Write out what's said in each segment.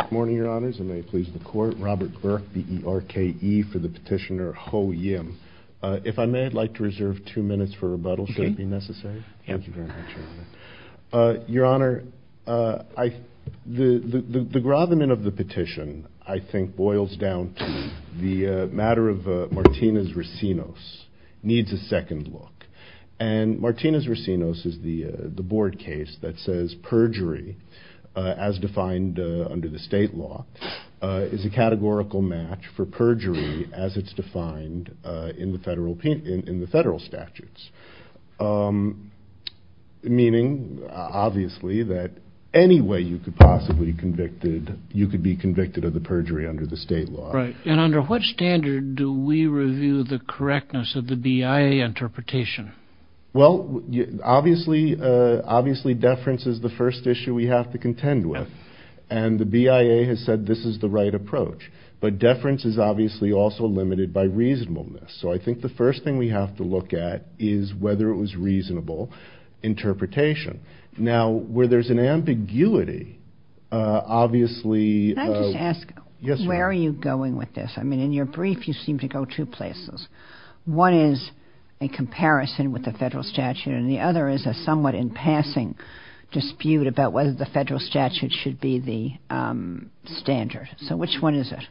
Good morning, Your Honors, and may it please the Court. Robert Burke, B-E-R-K-E, for the petitioner Ho Yim. If I may, I'd like to reserve two minutes for rebuttal, should it be necessary? Thank you very much, Your Honor. Your Honor, the grovelment of the petition, I think, boils down to the matter of Martinez-Racinos needs a second look. And Martinez-Racinos is the defined under the state law, is a categorical match for perjury as it's defined in the federal statutes. Meaning, obviously, that any way you could possibly be convicted of the perjury under the state law. Right. And under what standard do we review the correctness of the BIA interpretation? Well, obviously, deference is the first issue we have to contend with. And the BIA has said this is the right approach. But deference is obviously also limited by reasonableness. So I think the first thing we have to look at is whether it was reasonable interpretation. Now, where there's an ambiguity, obviously... Can I just ask? Yes, Your Honor. Where are you going with this? I mean, in your brief, you seem to go two places. One is a comparison with the federal statute and the other is a somewhat in passing dispute about whether the BIA should be the standard. So which one is it?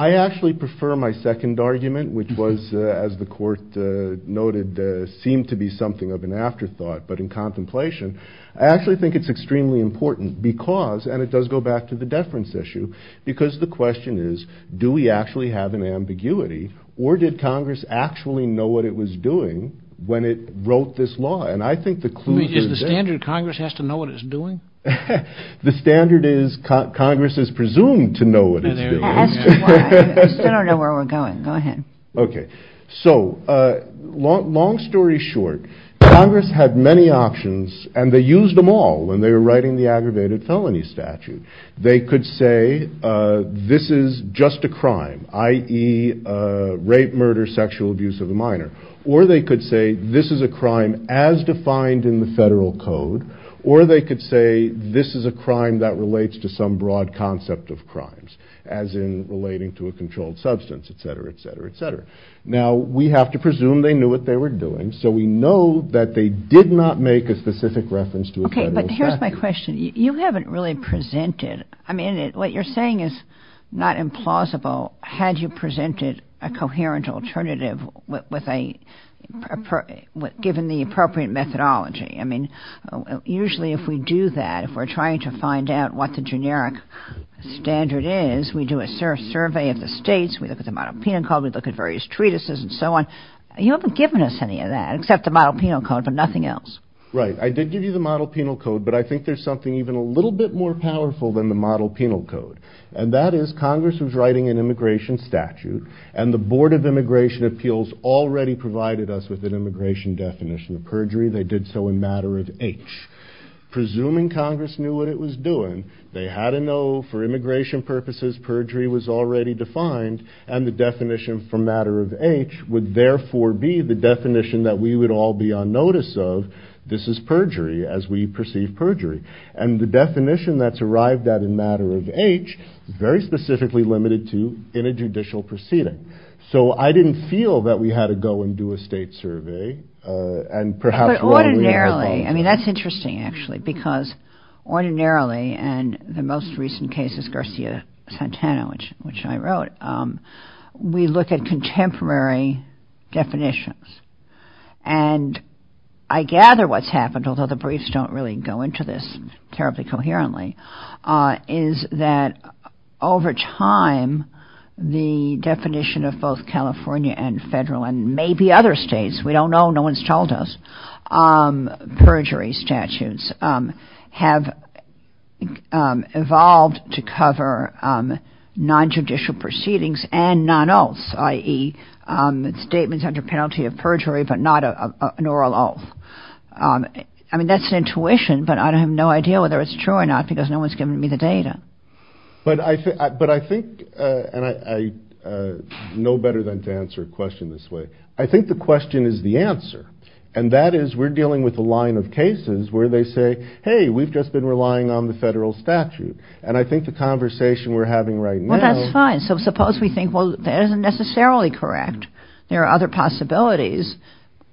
I actually prefer my second argument, which was, as the court noted, seemed to be something of an afterthought. But in contemplation, I actually think it's extremely important because, and it does go back to the deference issue, because the question is, do we actually have an ambiguity or did Congress actually know what it was doing when it wrote this law? And I think the clue... Is the standard Congress has to know what it's doing? The standard is Congress is presumed to know what it's doing. I don't know where we're going. Go ahead. Okay. So long story short, Congress had many options and they used them all when they were writing the aggravated felony statute. They could say, this is just a crime, i.e. rape, murder, sexual abuse of a minor. Or they could say, this is a crime as defined in federal code. Or they could say, this is a crime that relates to some broad concept of crimes, as in relating to a controlled substance, et cetera, et cetera, et cetera. Now we have to presume they knew what they were doing. So we know that they did not make a specific reference to a federal statute. Okay, but here's my question. You haven't really presented... I mean, what you're saying is not implausible had you presented a coherent alternative given the appropriate methodology. I mean, usually if we do that, if we're trying to find out what the generic standard is, we do a survey of the states, we look at the model penal code, we look at various treatises and so on. You haven't given us any of that except the model penal code, but nothing else. Right. I did give you the model penal code, but I think there's something even a little bit more powerful than the model penal code. And that is Congress was writing an immigration statute and the Board of Immigration Appeals already provided us with an immigration definition of perjury. They did so in matter of H. Presuming Congress knew what it was doing, they had to know for immigration purposes, perjury was already defined and the definition for matter of H would therefore be the definition that we would all be on notice of. This is perjury as we perceive perjury. And the definition that's very specifically limited to in a judicial proceeding. So I didn't feel that we had to go and do a state survey and perhaps... But ordinarily, I mean, that's interesting actually, because ordinarily and the most recent case is Garcia-Santana, which I wrote, we look at contemporary definitions. And I gather what's happened, although the briefs don't really go into this terribly coherently, is that over time, the definition of both California and federal and maybe other states, we don't know, no one's told us, perjury statutes have evolved to cover non-judicial proceedings and non-oaths, i.e. statements under penalty of perjury, but not an oral oath. I mean, that's intuition, but I have no idea whether it's true or not, because no one's given me the data. But I think, and I know better than to answer a question this way. I think the question is the answer. And that is we're dealing with a line of cases where they say, hey, we've just been relying on the federal statute. And I think the conversation we're having right now... Well, that's fine. So suppose we think, that isn't necessarily correct. There are other possibilities,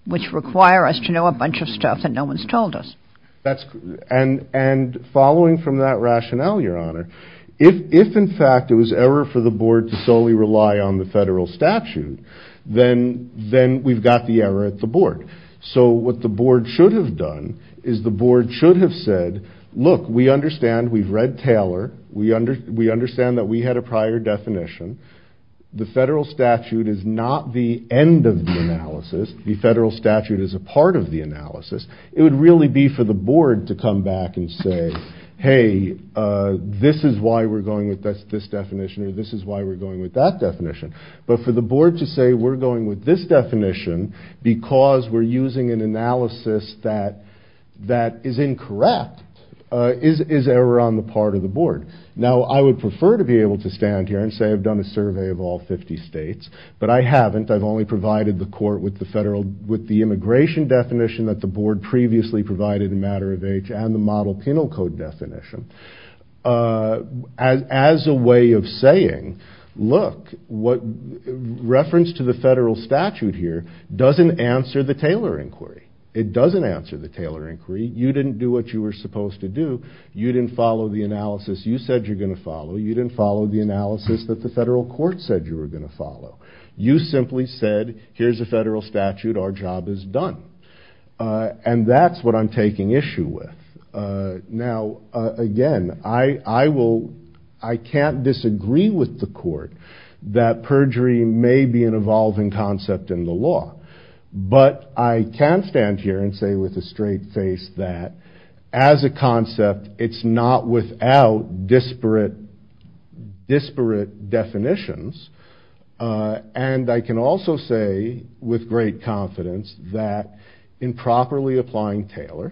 which require us to know a bunch of stuff that no one's told us. And following from that rationale, Your Honor, if in fact it was error for the board to solely rely on the federal statute, then we've got the error at the board. So what the board should have done is the board should have said, look, we understand we've read Taylor. We understand that we had a prior definition. The federal statute is not the end of the analysis. The federal statute is a part of the analysis. It would really be for the board to come back and say, hey, this is why we're going with this definition, or this is why we're going with that definition. But for the board to say, we're going with this definition because we're using an analysis that is incorrect, is error on the part of the board. Now, I would prefer to be able to stand here and say I've done a survey of all 50 states, but I haven't. I've only provided the court with the immigration definition that the board previously provided in matter of age and the model penal code definition. As a way of saying, look, reference to the federal statute here doesn't answer the Taylor inquiry. It doesn't answer the Taylor inquiry. You didn't do what you were supposed to do. You didn't follow the analysis you said you were going to follow. You didn't follow the analysis that the federal court said you were going to follow. You simply said, here's a federal statute. Our job is done. And that's what I'm taking issue with. Now, again, I can't disagree with the court that perjury may be an evolving concept in the law. But I can stand here and say with a straight face that as a concept, it's not without disparate definitions. And I can also say with great confidence that in properly applying Taylor,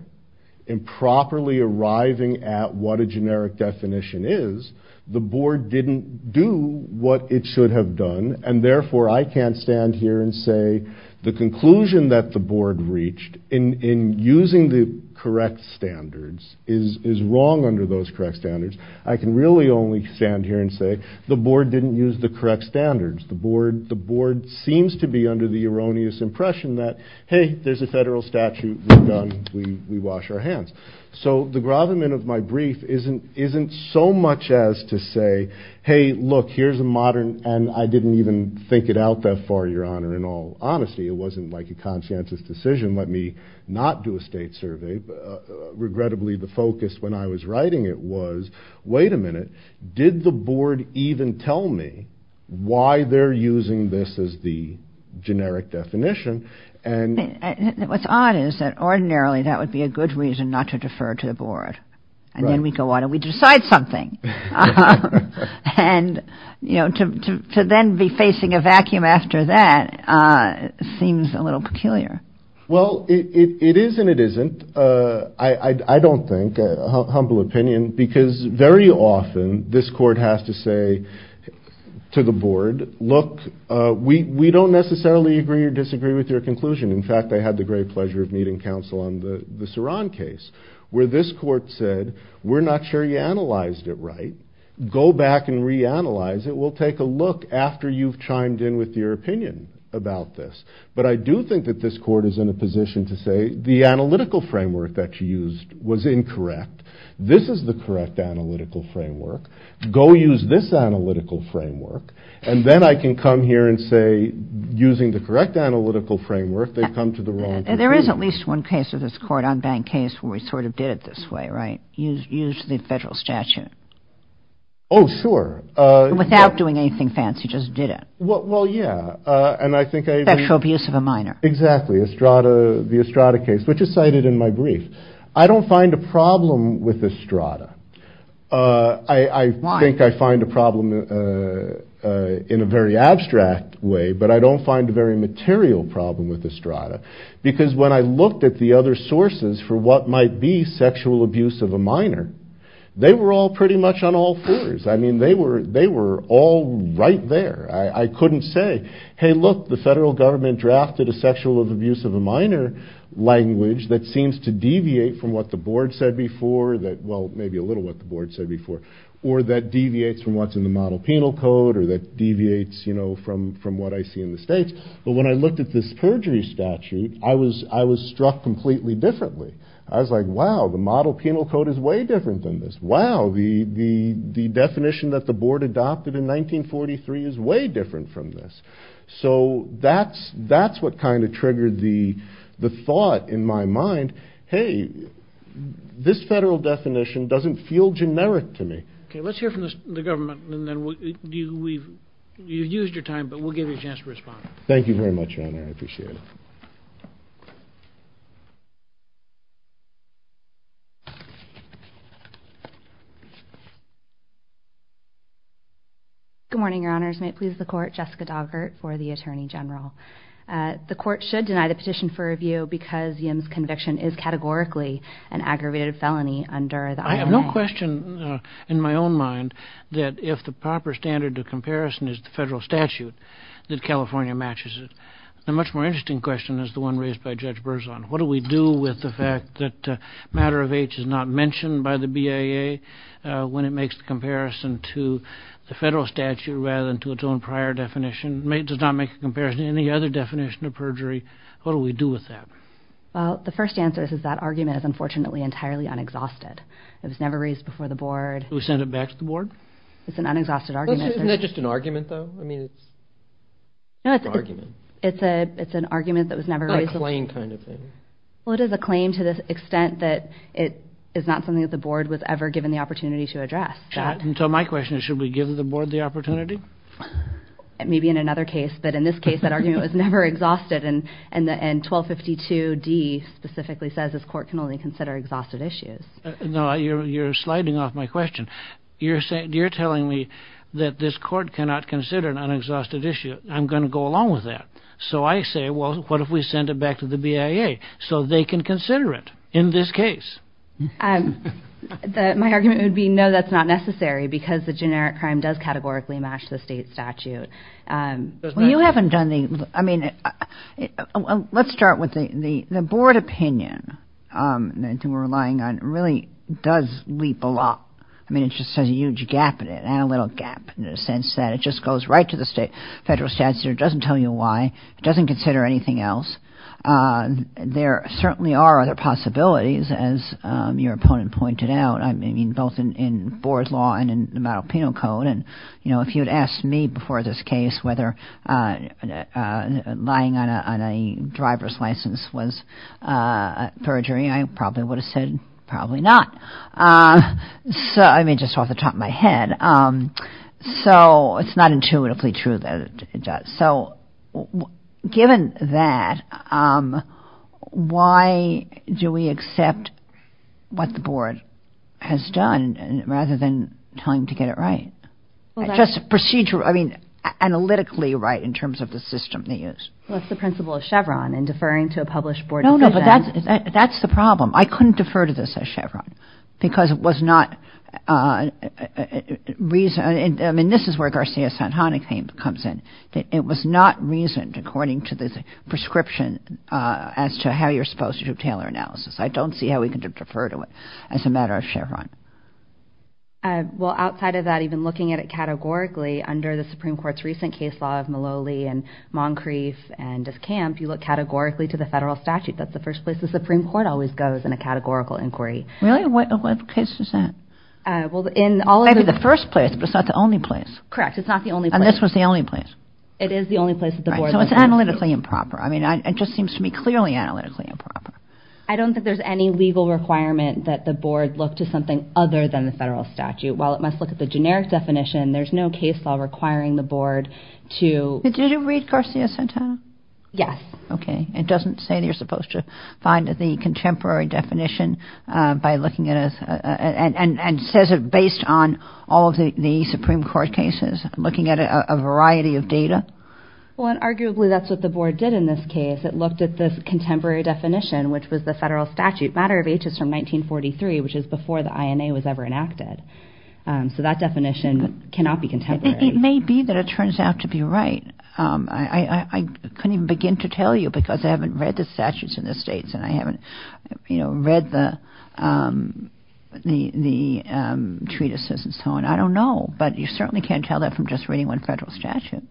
in properly arriving at what a generic definition is, the board didn't do what it should have done. And therefore, I can't stand here and say the conclusion that the board reached in using the correct standards is wrong under those correct standards. I can really only stand here and say the board didn't use the correct standards. The board seems to be under the erroneous impression that, hey, there's a federal statute. We're done. We wash our hands. So the grovelment of my brief isn't so much as to say, hey, look, here's a modern, and I didn't even think it out that far, your honor, in all honesty, it wasn't like a conscientious decision. Let me not do a state survey. But regrettably, the focus when I was writing it was, wait a minute, did the board even tell me why they're using this as the generic definition? And what's odd is that ordinarily, that would be a good reason not to defer to the board. And then we go on and we decide something. And to then be facing a vacuum after that seems a little peculiar. Well, it is and it isn't, I don't think, a humble opinion, because very often this court has to say to the board, look, we don't necessarily agree or disagree with your conclusion. In fact, I had the great pleasure of meeting counsel on the Saran case, where this court said, we're not sure you analyzed it right. Go back and reanalyze it. We'll take a look after you've chimed in with your opinion about this. But I do think that this court is in a position to say, the analytical framework that you used was incorrect. This is the correct analytical framework. Go use this analytical framework. And then I can come here and say, using the correct analytical framework, they've come to the wrong conclusion. There is at least one case of this court, unbanked case, where we sort of did it this way, right? Use the federal statute. Oh, sure. Without doing anything fancy, just did it. Well, yeah. And I think I... Sexual abuse of a minor. Exactly. The Estrada case, which is cited in my brief. I don't find a problem with Estrada. I think I find a problem in a very abstract way, but I don't find a very material problem with Estrada. Because when I looked at the other sources for what might be sexual abuse of a minor, they were all pretty much on all fours. I mean, they were all right there. I couldn't say, hey, look, the federal government drafted a sexual abuse of a minor language that seems to deviate from what the board said before, that, well, maybe a little what the board said before, or that deviates from what's in the model penal code, or that deviates from what I see in the states. But when I looked at this perjury statute, I was struck completely differently. I was like, wow, the model penal code is way different than this. Wow, the definition that the board adopted in 1943 is way different from this. So that's what kind of triggered the thought in my mind, hey, this federal definition doesn't feel generic to me. Okay, let's hear from the government, and then you've used your time, but we'll give you a chance to respond. Thank you very much, Your Honor. I appreciate it. Good morning, Your Honors. May it please the court, Jessica Doggart for the Attorney General. The court should deny the petition for review because Yim's conviction is categorically an aggravated felony under the ILO. I have no question in my own mind that if the proper standard of comparison is the federal statute, that California matches it. The much more interesting question is the one raised by Judge Berzon. What do we do with the fact that matter of age is not mentioned by the BIA when it makes the comparison to the federal statute rather than to its own prior definition, does not make a comparison to any other definition of perjury, what do we do with that? Well, the first answer is that argument is unfortunately entirely unexhausted. It was never raised before the board. Should we send it back to the board? It's an unexhausted argument. Isn't it just an argument, though? I mean, it's an argument. It's an argument that was never raised. Not a claim kind of thing. Well, it is a claim to the extent that it is not something that the board was ever given the opportunity to address. So my question is, should we give the board the opportunity? It may be in another case, but in this case, that argument was never exhausted. And 1252d specifically says this court can only consider exhausted issues. No, you're sliding off my question. You're telling me that this court cannot consider an unexhausted issue. I'm going to go along with that. So I say, well, what if we send it back to the BIA so they can consider it in this case? My argument would be, no, that's not necessary because the generic crime does categorically match the state statute. Well, you haven't done the, I mean, let's start with the board opinion. We're relying on really does leap a lot. I mean, it just has a huge gap in it and a little gap in the sense that it just goes right to the state federal statute. It doesn't tell you why. It doesn't consider anything else. There certainly are other possibilities, as your opponent pointed out. Both in board law and in the model penal code. And if you had asked me before this case whether lying on a driver's license was perjury, I probably would have said probably not. I mean, just off the top of my head. So it's not intuitively true that it does. So given that, why do we accept what the board has done rather than trying to get it right? Just procedural, I mean, analytically right in terms of the system they use. What's the principle of Chevron in deferring to a published board? No, no, but that's the problem. I couldn't defer to this as Chevron because it was not reason. I mean, this is where Garcia Santana came, comes in. It was not reasoned according to this prescription as to how you're supposed to do Taylor analysis. I don't see how we can defer to it as a matter of Chevron. Well, outside of that, even looking at it categorically under the Supreme Court's recent case law of Maloli and Moncrief and Discamp, you look categorically to the federal statute. That's the first place the Supreme Court always goes in a categorical inquiry. Really? What case is that? Well, in all... Maybe the first place, but it's not the only place. Correct. It's not the only place. And this was the only place. It is the only place that the board... So it's analytically improper. I mean, it just seems to me clearly analytically improper. I don't think there's any legal requirement that the board look to something other than the federal statute. While it must look at the generic definition, there's no case law requiring the board to... Did you read Garcia Santana? Yes. Okay. It doesn't say that you're supposed to find that the contemporary definition by looking at it and says it based on all of the Supreme Court cases, looking at a variety of data. Well, and arguably that's what the board did in this case. It looked at this contemporary definition, which was the federal statute, matter of ages from 1943, which is before the INA was ever enacted. So that definition cannot be contemporary. It may be that it turns out to be right. I couldn't even begin to tell you because I haven't read the statutes in the states and I haven't read the treatises and so on. I don't know, but you certainly can't tell that from just reading one federal statute.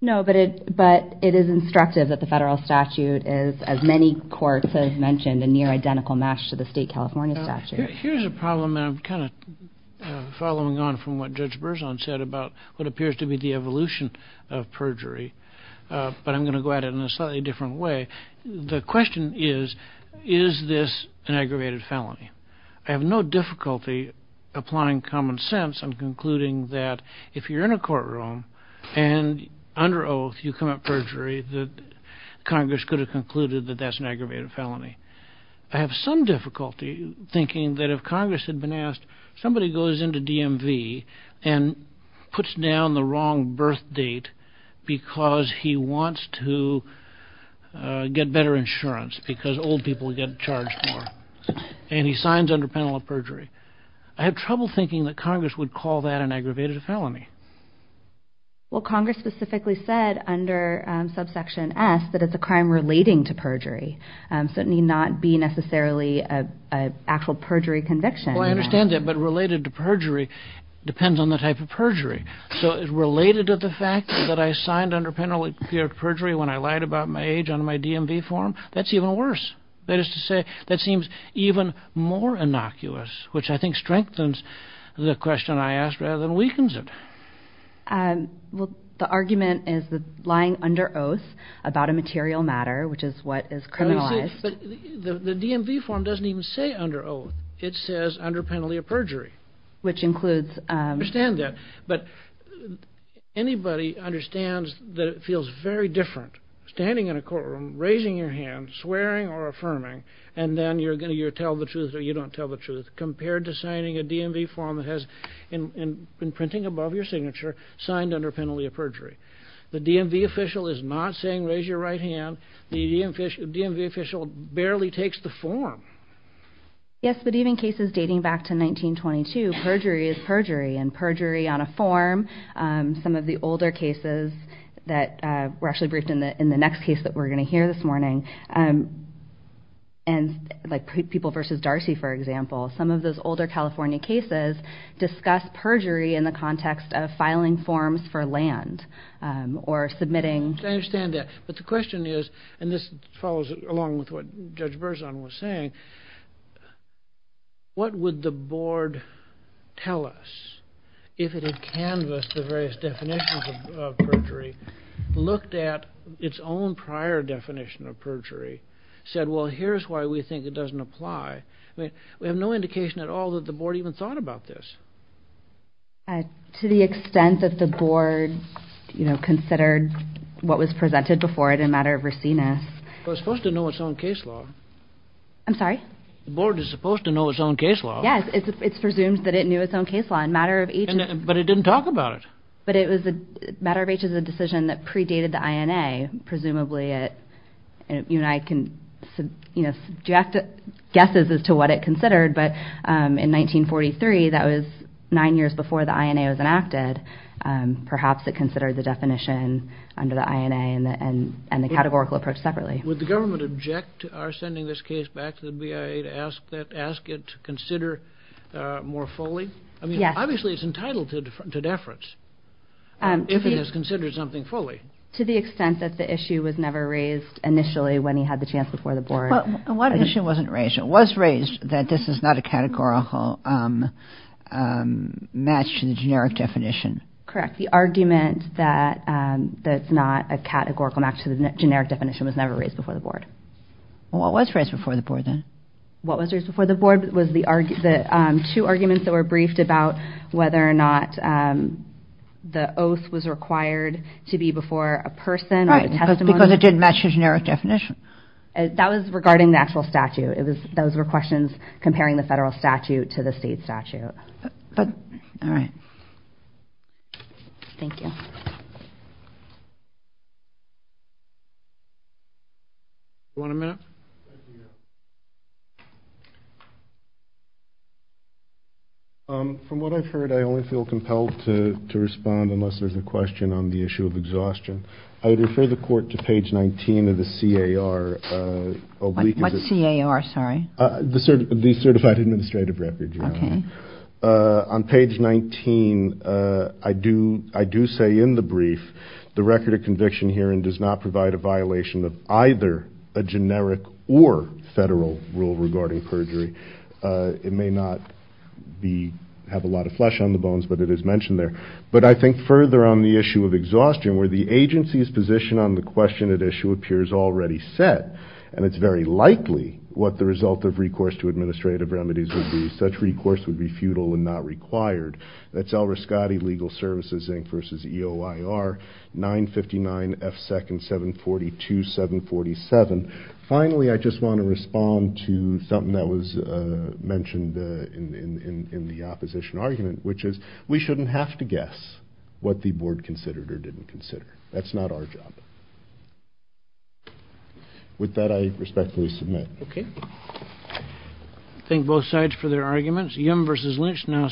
No, but it is instructive that the federal statute is, as many courts have mentioned, a near identical match to the state California statute. Here's a problem and I'm kind of following on from what Judge Berzon said about what appears to be the evolution of perjury, but I'm going to go at it in a slightly different way. The question is, is this an aggravated felony? I have no difficulty applying common sense. I'm concluding that if you're in a courtroom and under oath, you commit perjury, that Congress could have concluded that that's an aggravated felony. I have some difficulty thinking that if Congress had been asked, somebody goes into DMV and puts down the wrong birth date because he wants to get better insurance because old people get charged more and he signs under penalty of perjury, I have trouble thinking that Congress would call that an aggravated felony. Well, Congress specifically said under subsection S that it's a crime relating to perjury. So it need not be necessarily an actual perjury conviction. I understand that, but related to perjury depends on the type of perjury. So it's related to the fact that I signed under penalty of perjury when I lied about my age on my DMV form. That's even worse. That is to say, that seems even more innocuous, which I think strengthens the question I asked rather than weakens it. The argument is that lying under oath about a material matter, which is what is criminalized. But the DMV form doesn't even say under oath. It says under penalty of perjury. Which includes... I understand that, but anybody understands that it feels very different standing in a courtroom, raising your hand, swearing or affirming, and then you're going to tell the truth or you don't tell the truth compared to signing a DMV form that has been printing above your signature, signed under penalty of perjury. The DMV official is not saying raise your right hand. The DMV official barely takes the form. Yes, but even cases dating back to 1922, perjury is perjury. And perjury on a form, some of the older cases that were actually briefed in the next case that we're going to hear this morning, like people versus Darcy, for example, some of those older California cases discuss perjury in the context of filing forms for land or submitting... I understand that. But the question is, and this follows along with what Judge Berzon was saying, what would the board tell us if it had canvassed the various definitions of perjury, looked at its own prior definition of perjury, said, well, here's why we think it doesn't apply. I mean, we have no indication at all that the board even thought about this. To the extent that the board, you know, considered what was presented before it in matter of raciness. It was supposed to know its own case law. I'm sorry? The board is supposed to know its own case law. Yes, it's presumed that it knew its own case law in matter of age. But it didn't talk about it. But it was a matter of age is a decision that predated the INA. Presumably, you and I can, you know, do you have to guess as to what it considered. But in 1943, that was nine years before the INA was enacted. Perhaps it considered the definition under the INA and the categorical approach separately. Would the government object to our sending this case back to the BIA to ask it to consider more fully? I mean, obviously, it's entitled to deference. If it is considered something fully. To the extent that the issue was never raised initially when he had the chance before the board. What issue wasn't raised? It was raised that this is not a categorical match to the generic definition. Correct. The argument that that's not a categorical match to the generic definition was never raised before the board. What was raised before the board then? What was raised before the board was the two arguments that were briefed about whether or not the oath was required to be before a person or a testimony. Because it didn't match the generic definition. That was regarding the actual statute. Those were questions comparing the federal statute to the state statute. All right. Thank you. From what I've heard, I only feel compelled to respond unless there's a question on the issue of exhaustion. I would refer the court to page 19 of the CAR. What CAR, sorry? The Certified Administrative Record. On page 19, I do say in the brief, the record of conviction hearing does not provide a violation of either a generic or federal rule regarding perjury. It may not have a lot of flesh on the bones, but it is mentioned there. But I think further on the issue of exhaustion, where the agency's position on the question that issue appears already set, and it's very likely what the result of recourse to administrative remedies would be. Such recourse would be futile and not required. That's Al Riscotti, Legal Services, Inc. versus EOIR, 959 F. 2nd, 742, 747. Finally, I just want to respond to something that was mentioned in the opposition argument, which is we shouldn't have to guess what the board considered or didn't consider. That's not our job. With that, I respectfully submit. Okay. Thank both sides for their arguments. Yim versus Lynch now.